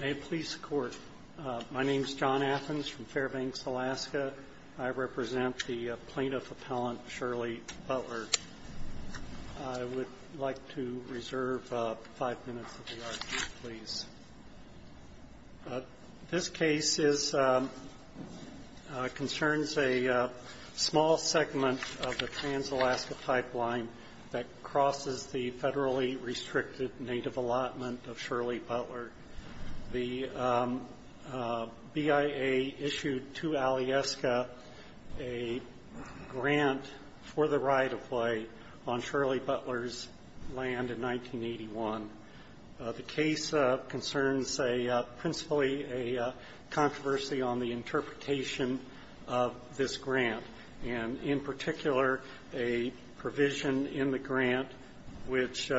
My name is John Athens from Fairbanks, Alaska. I represent the plaintiff appellant Shirley Butler. I would like to reserve five minutes of the argument, please. This case concerns a small segment of the Trans-Alaska Pipeline that crosses the federally restricted native allotment of Shirley Butler. The BIA issued to Alyeska a grant for the right of way on Shirley Butler's land in 1981. The case concerns a principally a controversy on the interpretation of this grant, and in particular, a provision in the grant which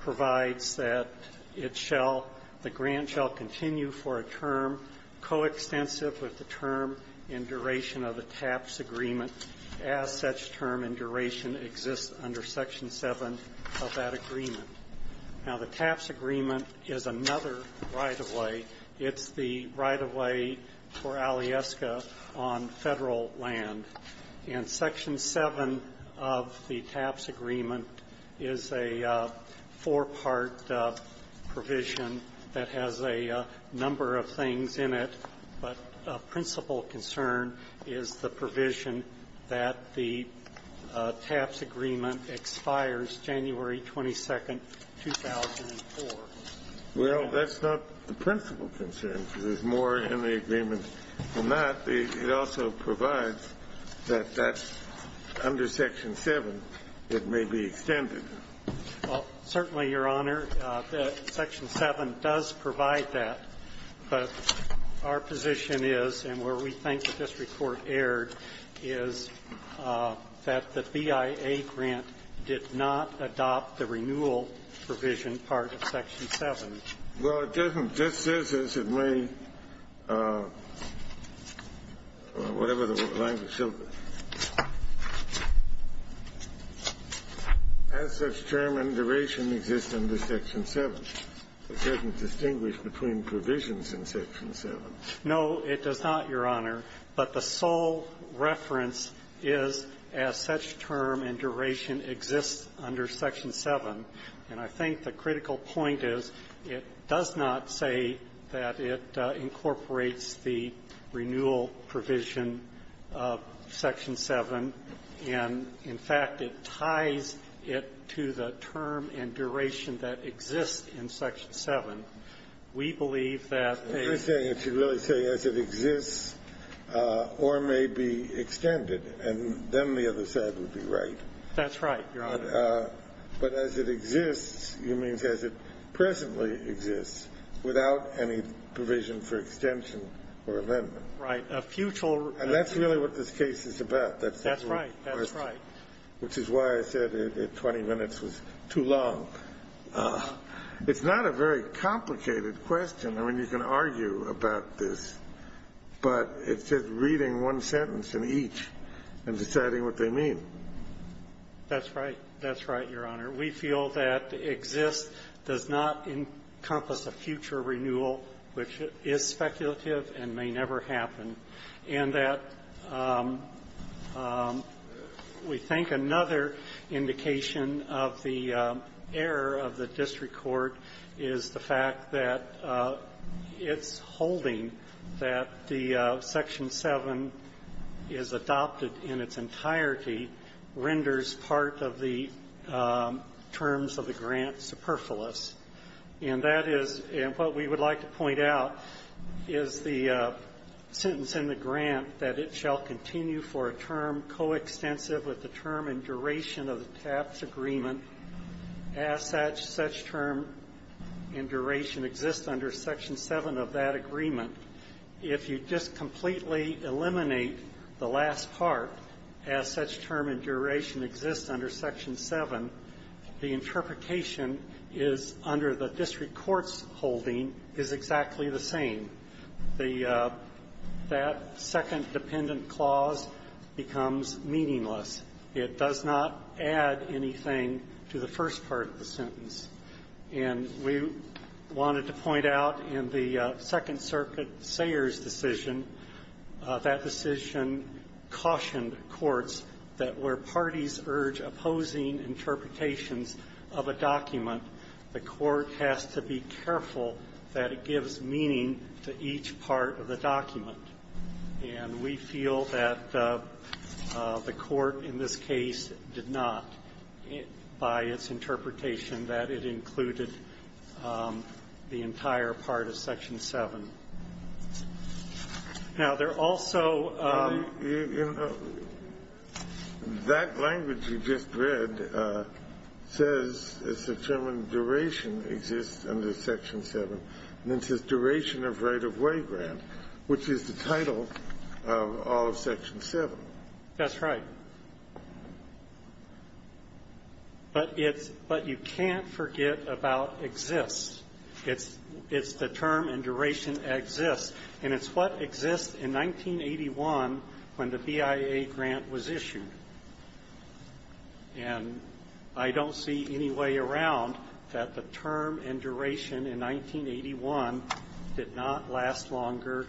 provides that it shall the grant shall continue for a term coextensive with the term in duration of the TAPS agreement as such term in duration exists under Section 7 of that agreement. Now, the TAPS agreement is another right of way. It's the right of way for Alyeska on federal land. And Section 7 of the TAPS agreement is a four-part provision that has a number of things in it, but a principal concern is the provision that the TAPS agreement expires January 22nd, 2004. Well, that's not the principal concern. There's more in the agreement than that. It also provides that that's under Section 7. It may be extended. Well, certainly, Your Honor, Section 7 does provide that. But our position is, and where we think that this report erred, is that the BIA grant did not adopt the renewal provision part of Section 7. Well, it doesn't. It just says, as it may, whatever the language, as such term in duration exists under Section 7. It doesn't distinguish between provisions in Section 7. No, it does not, Your Honor. But the sole reference is as such term in duration exists under Section 7. And I think the critical point is it does not say that it incorporates the renewal provision of Section 7, and, in fact, it ties it to the term in duration that exists in Section 7. We believe that a ---- You're saying it should really say, as it exists or may be extended. And then the other side would be right. That's right, Your Honor. But as it exists, you mean as it presently exists, without any provision for extension or amendment. Right. A futile ---- And that's really what this case is about. That's the ---- That's right. That's right. Which is why I said 20 minutes was too long. It's not a very complicated question. I mean, you can argue about this, but it's just reading one sentence in each and deciding what they mean. That's right. That's right, Your Honor. We feel that exists does not encompass a future renewal, which is speculative and may never happen. And that we think another indication of the error of the district court is the fact that it's holding that the Section 7 is adopted in its entirety, renders part of the terms of the grant superfluous. And that is ---- and what we would like to point out is the sentence in the grant that it shall continue for a term coextensive with the term and duration of the tax agreement as such term and duration exists under Section 7 of that agreement. If you just completely eliminate the last part, as such term and duration exists under Section 7, the interpretation is under the district court's holding is exactly the same. The ---- that second dependent clause becomes meaningless. It does not add anything to the first part of the sentence. And we wanted to point out in the Second Circuit Sayers decision, that decision cautioned courts that where parties urge opposing interpretations of a document, the court has to be careful that it gives meaning to each part of the document. And we feel that the court in this case did not, by its interpretation, that it included the entire part of Section 7. Now, there also ---- Kennedy, you know, that language you just read says, as such term and duration exists under Section 7. And it says duration of right-of-way grant, which is the title of all of Section 7. That's right. But it's ---- but you can't forget about exists. It's the term and duration exists. And it's what exists in 1981 when the BIA grant was issued. And I don't see any way around that the term and duration in 1981 did not last longer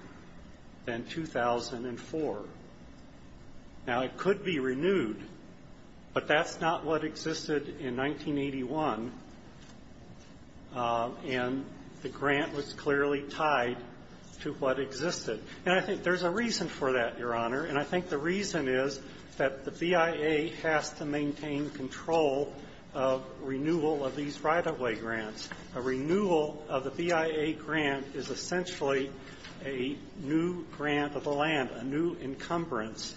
than 2004. Now, it could be renewed, but that's not what existed in 1981, and the grant was clearly tied to what existed. And I think there's a reason for that, Your Honor. And I think the reason is that the BIA has to maintain control of renewal of these right-of-way grants. A renewal of the BIA grant is essentially a new grant of the land, a new encumbrance.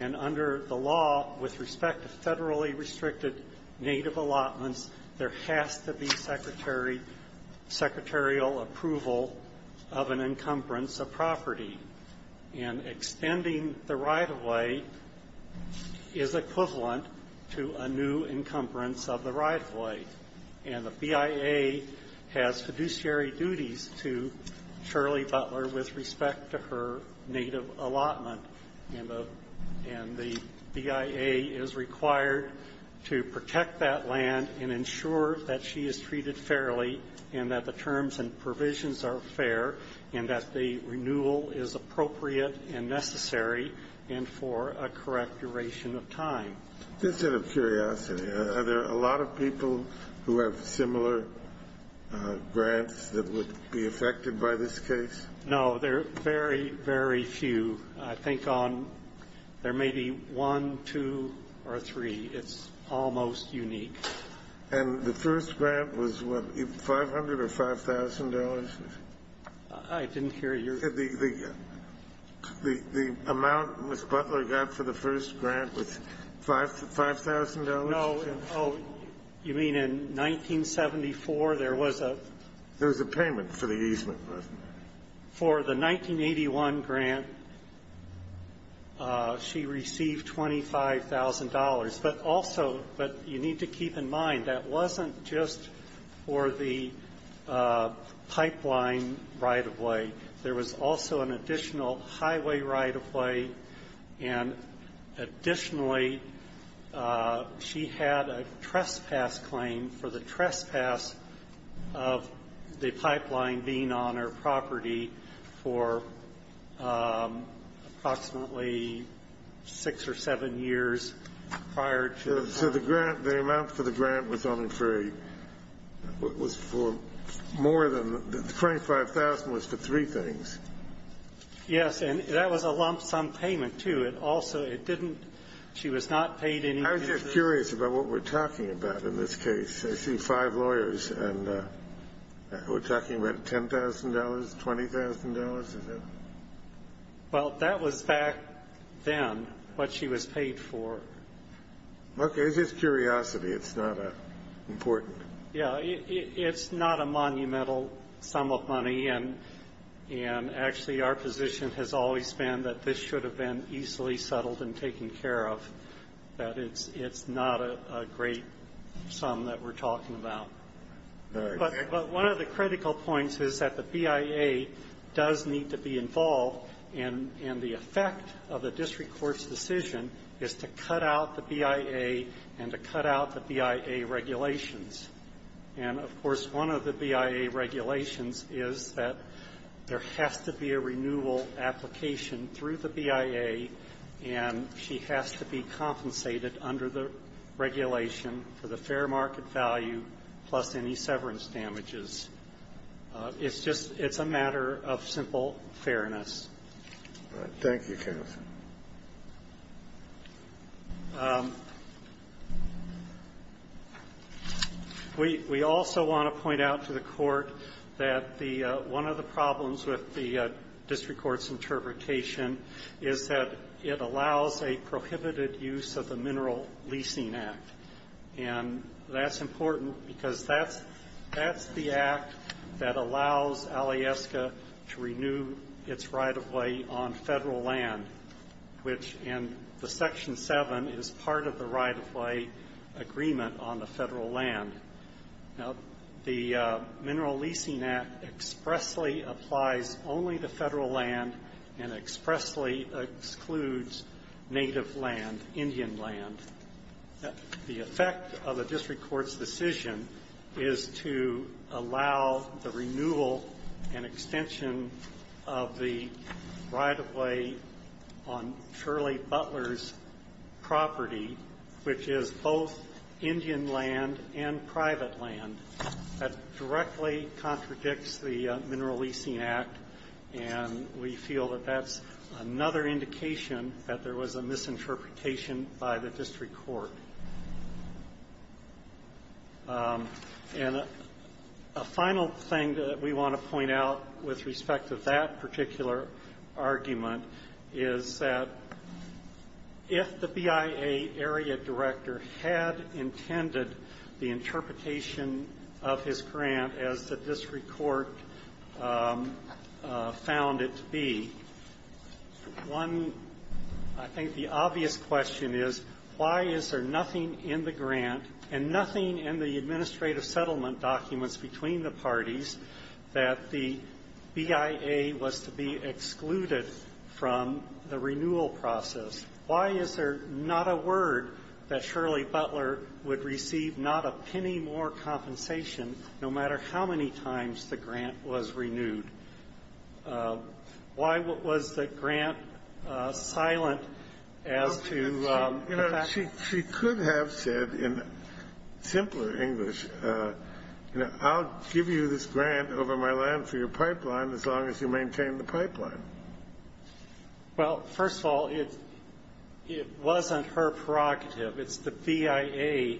And under the law, with respect to federally restricted native allotments, there has to be secretarial approval of an encumbrance of property. And extending the right-of-way is equivalent to a new encumbrance of the right-of-way. And the BIA has fiduciary duties to Shirley Butler with respect to her native allotment. And the BIA is required to protect that land and ensure that she is treated fairly and that the terms and provisions are fair and that the renewal is appropriate and necessary and for a correct duration of time. This is out of curiosity. Are there a lot of people who have similar grants that would be affected by this case? No. There are very, very few. I think there may be one, two, or three. It's almost unique. And the first grant was, what, $500,000 or $5,000? I didn't hear your question. The amount Ms. Butler got for the first grant was $5,000? No. Oh, you mean in 1974, there was a ---- There was a payment for the easement. For the 1981 grant, she received $25,000. But also, but you need to keep in mind, that wasn't just for the pipeline right-of-way. There was also an additional highway right-of-way. And additionally, she had a trespass claim for the trespass of the pipeline being on her property for approximately six or seven years prior to the ---- So the grant, the amount for the grant was only for a, was for more than, the $25,000 was for three things. Yes. And that was a lump sum payment, too. It also, it didn't, she was not paid any ---- I'm just curious about what we're talking about in this case. I see five lawyers, and we're talking about $10,000, $20,000, is that ---- Well, that was back then, what she was paid for. Okay. It's just curiosity. It's not important. Yeah. It's not a monumental sum of money. And actually, our position has always been that this should have been easily settled and taken care of, but it's not a great sum that we're talking about. But one of the critical points is that the BIA does need to be involved, and the effect of the district court's decision is to cut out the BIA and to cut out the BIA regulations. And, of course, one of the BIA regulations is that there has to be a renewal application through the BIA, and she has to be compensated under the regulation for the fair market value, plus any severance damages. It's just, it's a matter of simple fairness. Thank you, counsel. We also want to point out to the Court that the one of the problems with the district court's interpretation is that it allows a prohibited use of the Mineral Leasing Act. And that's important because that's the act that allows Alieska to renew its right-of-way on federal land, which in the Section 7 is part of the right-of-way agreement on the federal land. Now, the Mineral Leasing Act expressly applies only to federal land and expressly excludes native land, Indian land. The effect of the district court's decision is to allow the renewal and extension of the right-of-way on Shirley Butler's property, which is both Indian land and private land. That directly contradicts the Mineral Leasing Act, and we feel that that's another indication that there was a misinterpretation by the district court. And a final thing that we want to point out with respect to that particular argument is that if the BIA area director had intended the interpretation of his grant as the district court found it to be, one, I think the obvious question is why is there nothing in the grant and nothing in the administrative settlement documents between the parties that the BIA was to be excluded from the renewal process? Why is there not a word that Shirley Butler would receive not a penny more compensation no matter how many times the grant was renewed? Why was the grant silent as to the fact that the BIA was to be excluded? You know, she could have said in simpler English, you know, I'll give you this grant over my land for your pipeline as long as you maintain the pipeline. Well, first of all, it wasn't her prerogative. It's the BIA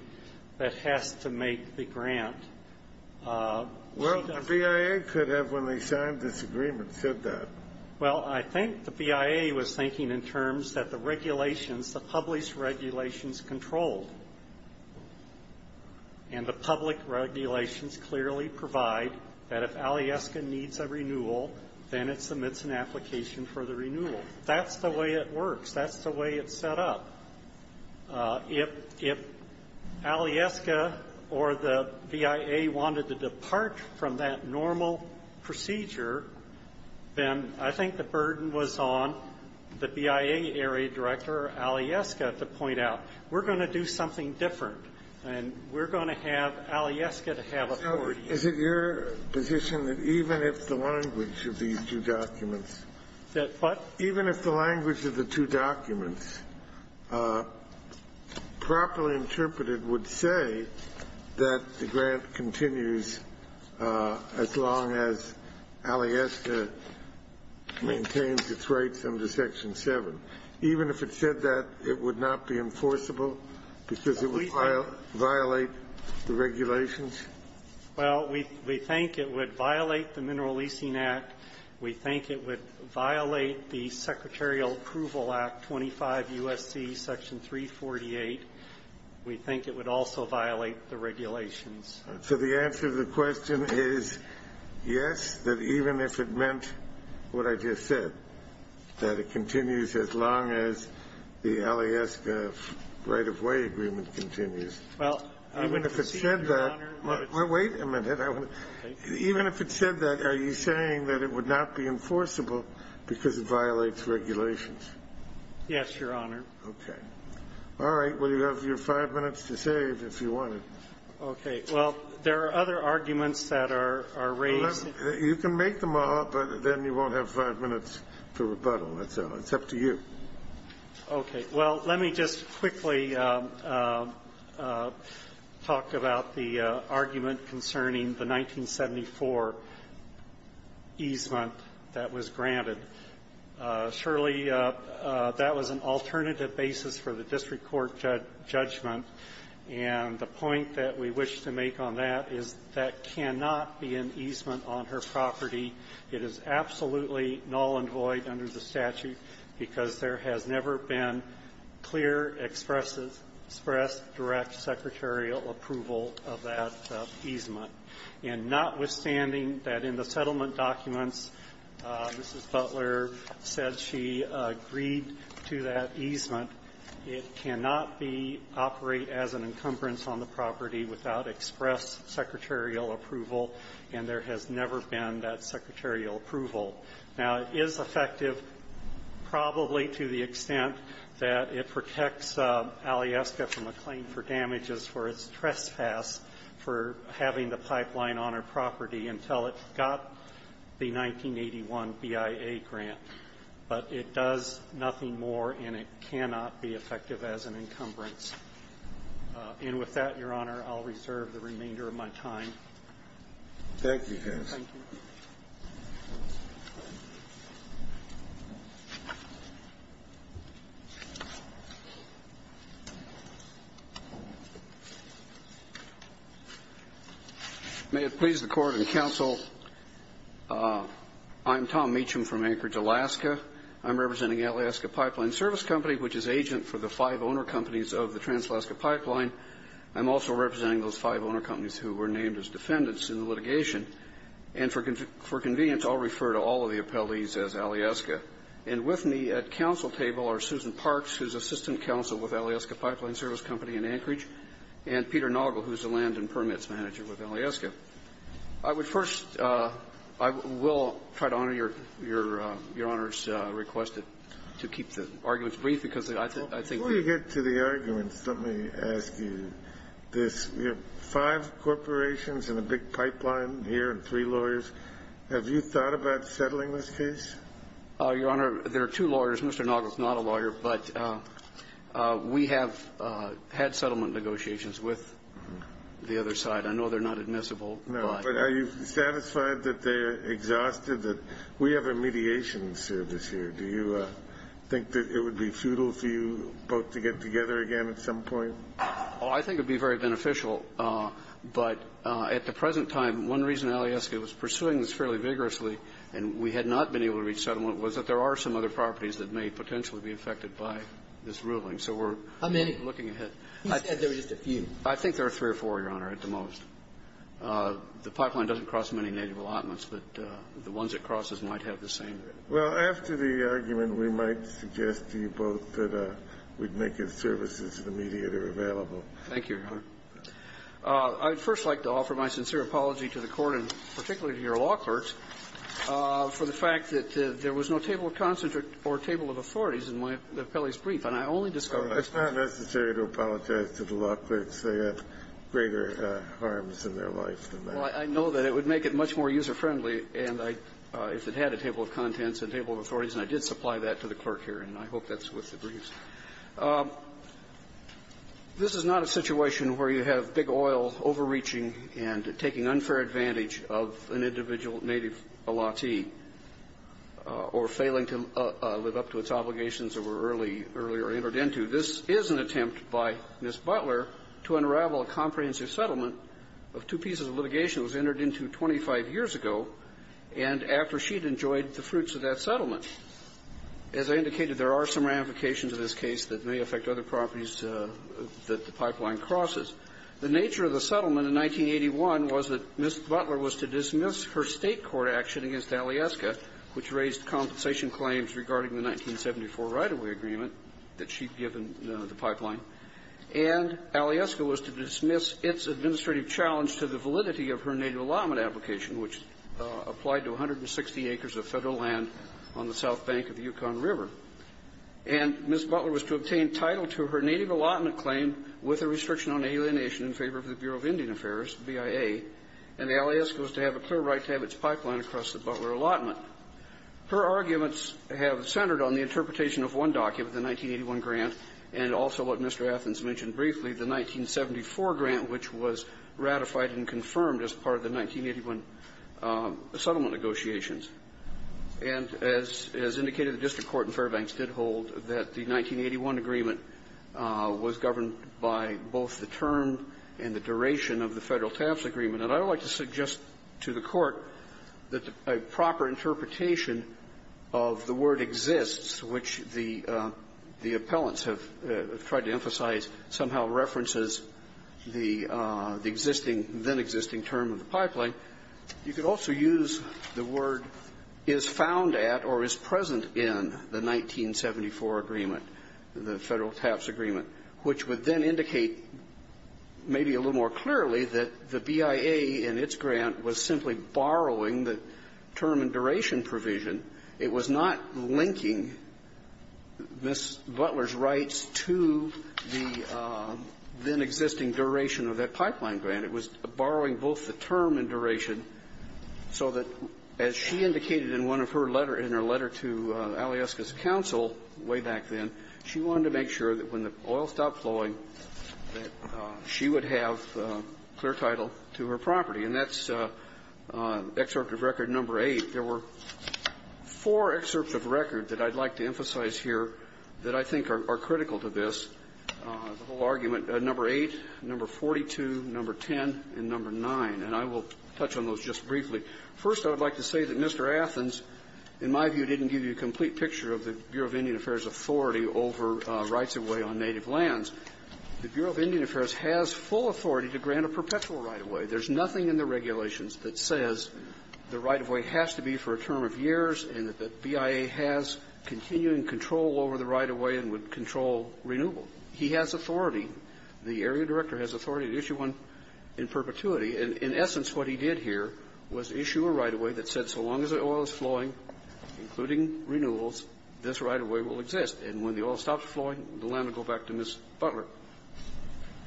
that has to make the grant. Well, the BIA could have, when they signed this agreement, said that. Well, I think the BIA was thinking in terms that the regulations, the published regulations controlled, and the public regulations clearly provide that if Alyeska needs a renewal, then it submits an application for the renewal. That's the way it works. That's the way it's set up. If Alyeska or the BIA wanted to depart from that normal procedure, then I think the burden was on the BIA area director Alyeska to point out, we're going to do something different, and we're going to have Alyeska to have authority. So is it your position that even if the language of these two documents? That what? Even if the language of the two documents properly interpreted would say that the grant continues as long as Alyeska maintains its rights under Section 7. Even if it said that, it would not be enforceable because it would violate the regulations? Well, we think it would violate the Mineral Leasing Act. We think it would violate the Secretarial Approval Act 25 U.S.C. Section 348. We think it would also violate the regulations. So the answer to the question is yes, that even if it meant what I just said, that it continues as long as the Alyeska right-of-way agreement continues. Even if it said that, wait a minute, even if it said that, are you saying that it would not be enforceable because it violates regulations? Yes, Your Honor. Okay. All right. Well, you have your five minutes to save if you wanted. Okay. Well, there are other arguments that are raised. You can make them all up, but then you won't have five minutes to rebuttal. That's all. It's up to you. Okay. Well, let me just quickly talk about the argument concerning the 1974 easement that was granted. Surely that was an alternative basis for the district court judgment. And the point that we wish to make on that is that cannot be an easement on her property. It is absolutely null and void under the statute because there has never been clear expressed direct secretarial approval of that easement. And notwithstanding that in the settlement documents, Mrs. Butler said she agreed to that easement, it cannot be operated as an encumbrance on the property without express secretarial approval. And there has never been that secretarial approval. Now, it is effective probably to the extent that it protects Alyeska from a claim for damages for its trespass for having the pipeline on her property until it got the 1981 BIA grant. But it does nothing more, and it cannot be effective as an encumbrance. And with that, Your Honor, I'll reserve the remainder of my time. Thank you, Judge. Thank you. May it please the Court and counsel, I'm Tom Meacham from Anchorage, Alaska. I'm representing Alyeska Pipeline Service Company, which is agent for the five owner companies of the Trans-Alaska Pipeline. I'm also representing those five owner companies who were named as defendants in the litigation. And for convenience, I'll refer to all of the appellees as Alyeska. And with me at counsel table are Susan Parks, who is assistant counsel with Alyeska Pipeline Service Company in Anchorage, and Peter Noggle, who is the land and permits manager with Alyeska. I would first – I will try to honor Your Honor's request to keep the arguments brief because I think the – Let me get to the arguments. Let me ask you this. We have five corporations and a big pipeline here and three lawyers. Have you thought about settling this case? Your Honor, there are two lawyers. Mr. Noggle is not a lawyer. But we have had settlement negotiations with the other side. I know they're not admissible. No. But are you satisfied that they're exhausted? We have a mediation service here. Do you think that it would be futile for you both to get together again at some point? Oh, I think it would be very beneficial. But at the present time, one reason Alyeska was pursuing this fairly vigorously and we had not been able to reach settlement was that there are some other properties that may potentially be affected by this ruling. So we're looking ahead. How many? You said there were just a few. I think there are three or four, Your Honor, at the most. The pipeline doesn't cross many native allotments, but the ones it crosses might have the same. Well, after the argument, we might suggest to you both that we'd make a service as an immediate or available. Thank you, Your Honor. I'd first like to offer my sincere apology to the Court and particularly to your law clerks for the fact that there was no table of consent or table of authorities in my appellee's brief, and I only discovered that. It's not necessary to apologize to the law clerks. They have greater harms in their life than that. Well, I know that it would make it much more user-friendly and I, if it had a table of contents, a table of authorities, and I did supply that to the clerk here, and I hope that's what's in the brief. This is not a situation where you have big oil overreaching and taking unfair advantage of an individual native allottee or failing to live up to its obligations that were early, earlier entered into. This is an attempt by Ms. Butler to unravel a comprehensive settlement of two pieces of litigation that was entered into 25 years ago and after she'd enjoyed the fruits of that settlement. As I indicated, there are some ramifications of this case that may affect other properties that the pipeline crosses. The nature of the settlement in 1981 was that Ms. Butler was to dismiss her State court action against Alyeska, which raised compensation claims regarding the 1974 right-of-way agreement that she'd given the pipeline, and Alyeska was to dismiss its administrative challenge to the validity of her native allotment application, which applied to 160 acres of Federal land on the south bank of the Yukon River. And Ms. Butler was to obtain title to her native allotment claim with a restriction on alienation in favor of the Bureau of Indian Affairs, BIA, and Alyeska was to have a clear right to have its pipeline across the Butler allotment. Her arguments have centered on the interpretation of one document, the 1981 grant, and also what Mr. Athens mentioned briefly, the 1974 grant, which was ratified and confirmed as part of the 1981 settlement negotiations. And as indicated, the district court in Fairbanks did hold that the 1981 agreement was governed by both the term and the duration of the Federal TAFs agreement. And I would like to suggest to the Court that a proper interpretation of the word exists, which the appellants have tried to emphasize somehow references the existing then-existing term of the pipeline, you could also use the word is found at or is present in the 1974 agreement, the Federal TAFs agreement, which would then indicate maybe a little more clearly that the BIA in its grant was simply borrowing the term and duration provision. It was not linking Ms. Butler's rights to the then-existing duration of that pipeline grant. It was borrowing both the term and duration so that, as she indicated in one of her letter, in her letter to Alyeska's counsel way back then, she wanted to make sure that when the oil stopped flowing that she would have clear title to her property. And that's excerpt of record number 8. There were four excerpts of record that I'd like to emphasize here that I think are critical to this, the whole argument, number 8, number 42, number 10, and number 9. And I will touch on those just briefly. First, I would like to say that Mr. Athens, in my view, didn't give you a complete picture of the Bureau of Indian Affairs authority over rights of way on native lands. The Bureau of Indian Affairs has full authority to grant a perpetual right-of-way. There's nothing in the regulations that says the right-of-way has to be for a term of years and that BIA has continuing control over the right-of-way and would control renewal. He has authority, the area director has authority to issue one in perpetuity. And in essence, what he did here was issue a right-of-way that said so long as the right-of-way renewals, this right-of-way will exist. And when the oil stops flowing, the land will go back to Ms. Butler.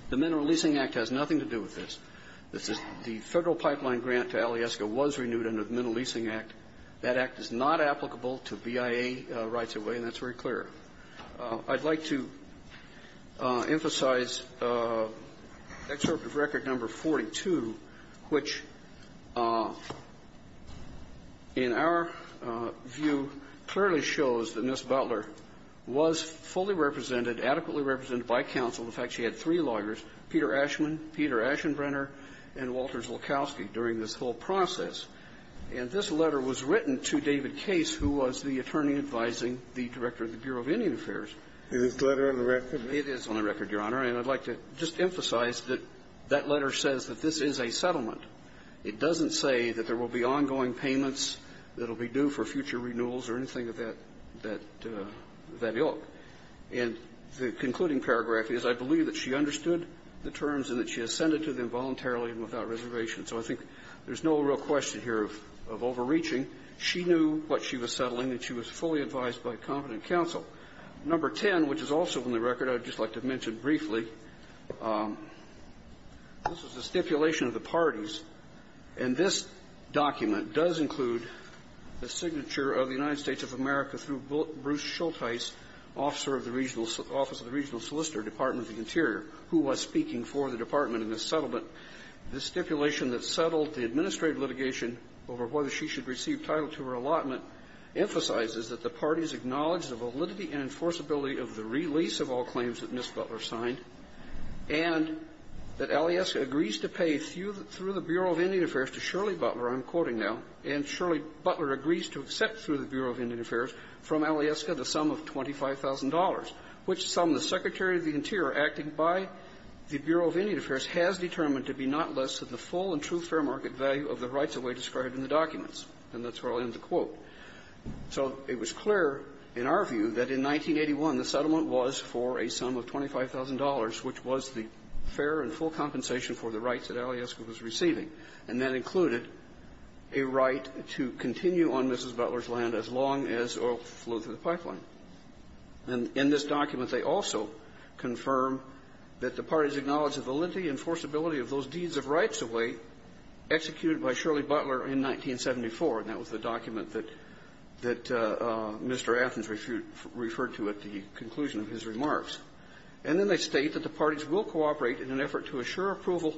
The Mineral Leasing Act has nothing to do with this. This is the Federal pipeline grant to Alyeska was renewed under the Mineral Leasing Act. That Act is not applicable to BIA rights-of-way, and that's very clear. I'd like to emphasize excerpt of record number 42, which, in our view, clearly states that Ms. Butler was fully represented, adequately represented by counsel. In fact, she had three lawyers, Peter Ashman, Peter Aschenbrenner, and Walters Lukowski, during this whole process. And this letter was written to David Case, who was the attorney advising the director of the Bureau of Indian Affairs. Kennedy. Is this letter on the record? It is on the record, Your Honor. And I'd like to just emphasize that that letter says that this is a settlement. It doesn't say that there will be ongoing payments that will be due for future renewals or anything of that ilk. And the concluding paragraph is, I believe that she understood the terms and that she ascended to them voluntarily and without reservation. So I think there's no real question here of overreaching. She knew what she was settling, and she was fully advised by competent counsel. Number 10, which is also on the record, I would just like to mention briefly, this is the stipulation of the parties, and this document does include the signature of the United States of America through Bruce Schultheis, officer of the regional solicitor, Department of the Interior, who was speaking for the department in this settlement. The stipulation that settled the administrative litigation over whether she should receive title to her allotment emphasizes that the parties acknowledge the validity and enforceability of the release of all claims that Ms. Butler signed, and that Alias agrees to pay through the Bureau of Indian Affairs to Shirley Butler, I'm quoting here, through the Bureau of Indian Affairs, from Alyeska the sum of $25,000, which sum the Secretary of the Interior, acting by the Bureau of Indian Affairs, has determined to be not less than the full and true fair market value of the rights of way described in the documents. And that's where I'll end the quote. So it was clear in our view that in 1981 the settlement was for a sum of $25,000, which was the fair and full compensation for the rights that Alyeska was receiving, and that included a right to continue on Mrs. Butler's land as long as oil flowed through the pipeline. And in this document, they also confirm that the parties acknowledge the validity and enforceability of those deeds of rights of way executed by Shirley Butler in 1974, and that was the document that Mr. Athens referred to at the conclusion of his remarks. And then they state that the parties will cooperate in an effort to assure approval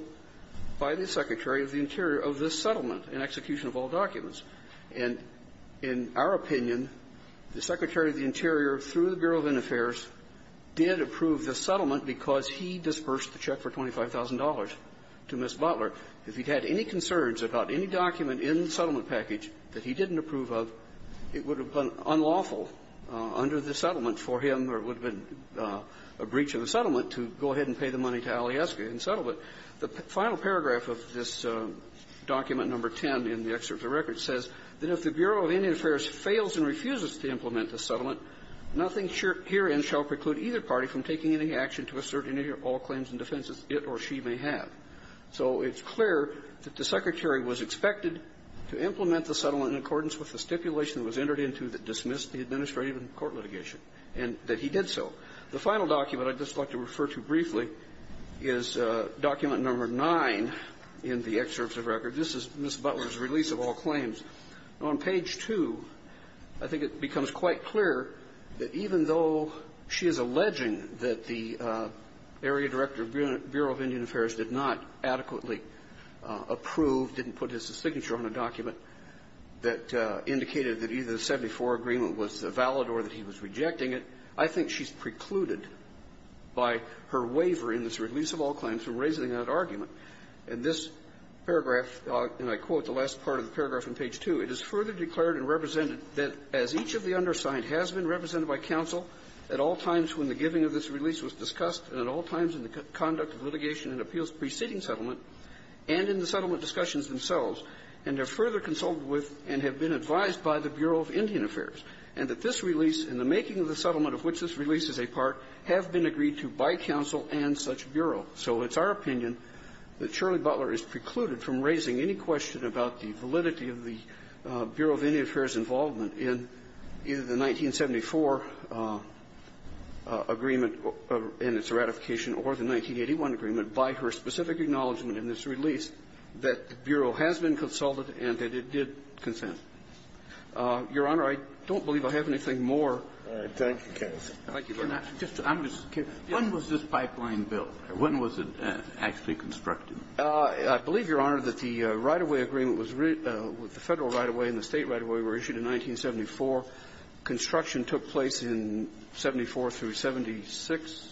by the Secretary of the Interior of this settlement in execution of all documents. And in our opinion, the Secretary of the Interior, through the Bureau of Indian Affairs, did approve the settlement because he dispersed the check for $25,000 to Miss Butler. If he had any concerns about any document in the settlement package that he didn't approve of, it would have been unlawful under the settlement for him or it would have been a breach of the settlement to go ahead and pay the money to Alyeska in the settlement. The final paragraph of this document number 10 in the excerpt of the record says that if the Bureau of Indian Affairs fails and refuses to implement the settlement, nothing herein shall preclude either party from taking any action to assert any or all claims and defenses it or she may have. So it's clear that the Secretary was expected to implement the settlement in accordance with the stipulation that was entered into that dismissed the administrative and court litigation, and that he did so. The final document I'd just like to refer to briefly is document number 9 in the excerpt of the record. This is Miss Butler's release of all claims. On page 2, I think it becomes quite clear that even though she is alleging that the area director of Bureau of Indian Affairs did not adequately approve, didn't put his signature on a document that indicated that either the 74 agreement was valid or that he was rejecting it, I think she's precluded by her waiver in this release of all claims for raising that argument. And this paragraph, and I quote the last part of the paragraph on page 2, it is further declared and represented that, as each of the undersigned has been represented by counsel at all times when the giving of this release was discussed and at all times in the conduct of litigation and appeals preceding settlement and in the settlement discussions themselves, and have further consulted with and have been advised by the Bureau of Indian Affairs, and that this release and the making of the settlement of which this release is a part have been agreed to by counsel and such bureau. So it's our opinion that Shirley Butler is precluded from raising any question about the validity of the Bureau of Indian Affairs' involvement in either the 1974 agreement and its ratification or the 1981 agreement by her specific acknowledgment in this release that the Bureau has been consulted and that it did consent. Your Honor, I don't believe I have anything more. Kennedy. Thank you, Your Honor. When was this pipeline built? When was it actually constructed? I believe, Your Honor, that the right-of-way agreement was the Federal right-of-way and the State right-of-way were issued in 1974. Construction took place in 74 through 76? 77.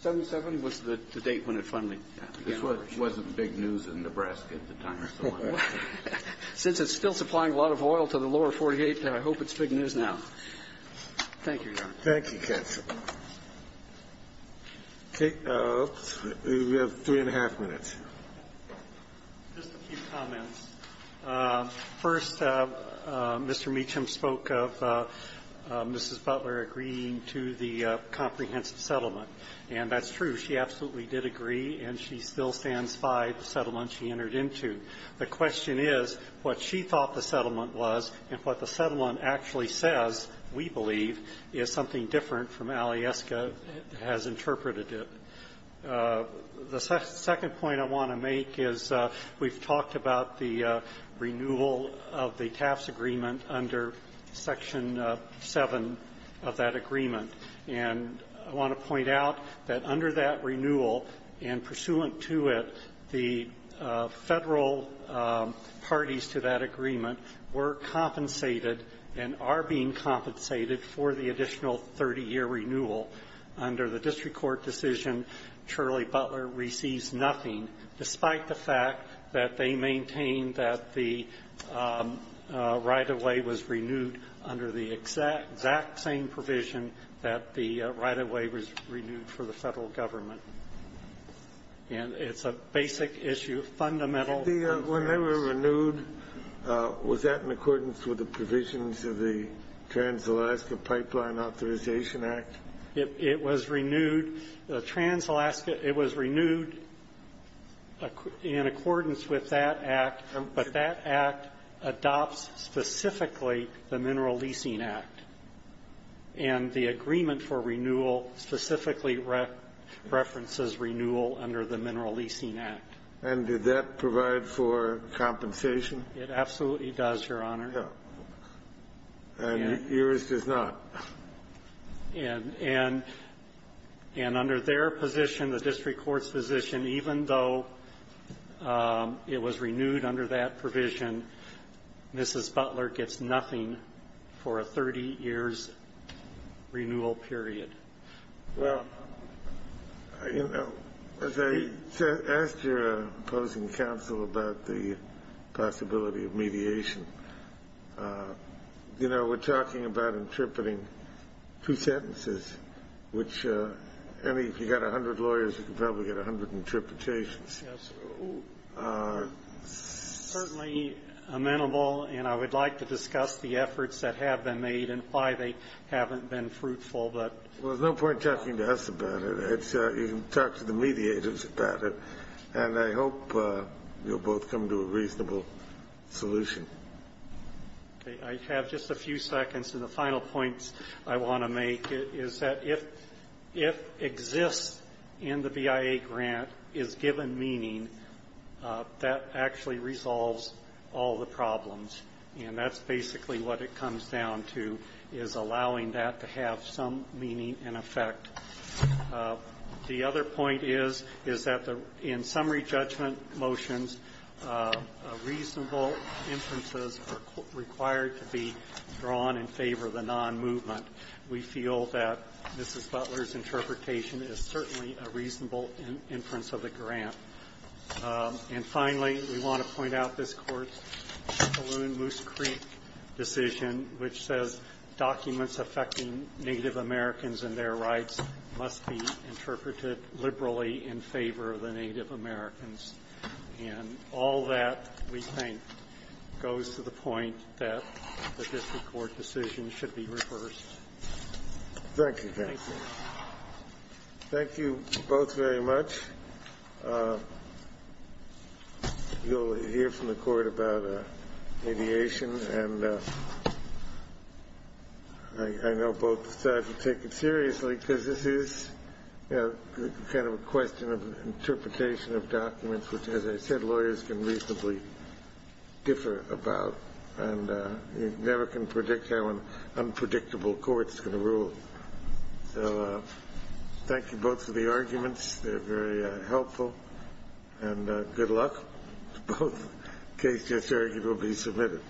77 was the date when it finally began operation. This wasn't big news in Nebraska at the time. Since it's still supplying a lot of oil to the lower 48, I hope it's big news now. Thank you, Your Honor. Thank you, counsel. Okay. We have three and a half minutes. Just a few comments. First, Mr. Meacham spoke of Mrs. Butler agreeing to the comprehensive settlement, and that's true. She absolutely did agree, and she still stands by the settlement she entered into. The question is what she thought the settlement was and what the settlement actually says, we believe, is something different from Alieska has interpreted it. The second point I want to make is we've talked about the renewal of the Taft's agreement under Section 7 of that agreement, and I want to point out that under that renewal and pursuant to it, the federal parties to that agreement were compensated and are being compensated for the additional 30-year renewal. Under the district court decision, Charlie Butler receives nothing despite the fact that they maintain that the right-of-way was renewed under the exact same provision that the right-of-way was renewed for the federal government. And it's a basic issue, fundamental. When they were renewed, was that in accordance with the provisions of the Trans-Alaska Pipeline Authorization Act? It was renewed in accordance with that act, but that act adopts specifically the Mineral Leasing Act, and the agreement for renewal specifically references renewal under the Mineral Leasing Act. And did that provide for compensation? It absolutely does, Your Honor. And yours does not? And under their position, the district court's position, even though it was renewed under that provision, Mrs. Butler gets nothing for a 30-years renewal period. Well, you know, as I asked your opposing counsel about the possibility of mediation, you know, we're talking about interpreting two sentences, which if you've got 100 lawyers, you can probably get 100 interpretations. Yes. Certainly amenable, and I would like to discuss the efforts that have been made and why they haven't been fruitful, but ---- Well, there's no point talking to us about it. You can talk to the mediators about it, and I hope you'll both come to a reasonable solution. Okay. I have just a few seconds, and the final points I want to make is that if exists in the BIA grant is given meaning, that actually resolves all the problems, and that's basically what it comes down to is allowing that to have some meaning and effect. The other point is, is that in summary judgment motions, reasonable inferences are required to be drawn in favor of the non-movement. We feel that Mrs. Butler's interpretation is certainly a reasonable inference of the grant. And finally, we want to point out this Court's Spaloon-Moose Creek decision, which says documents affecting Native Americans and their rights must be interpreted liberally in favor of the Native Americans. And all that, we think, goes to the point that the district court decision should be reversed. Thank you. Thank you. Thank you both very much. You'll hear from the Court about aviation, and I know both sides will take it seriously, because this is kind of a question of interpretation of documents, which, as I said, lawyers can reasonably differ about, and you never can predict how an unpredictable court is going to rule. So thank you both for the arguments. They're very helpful. And good luck. The case just argued will be submitted.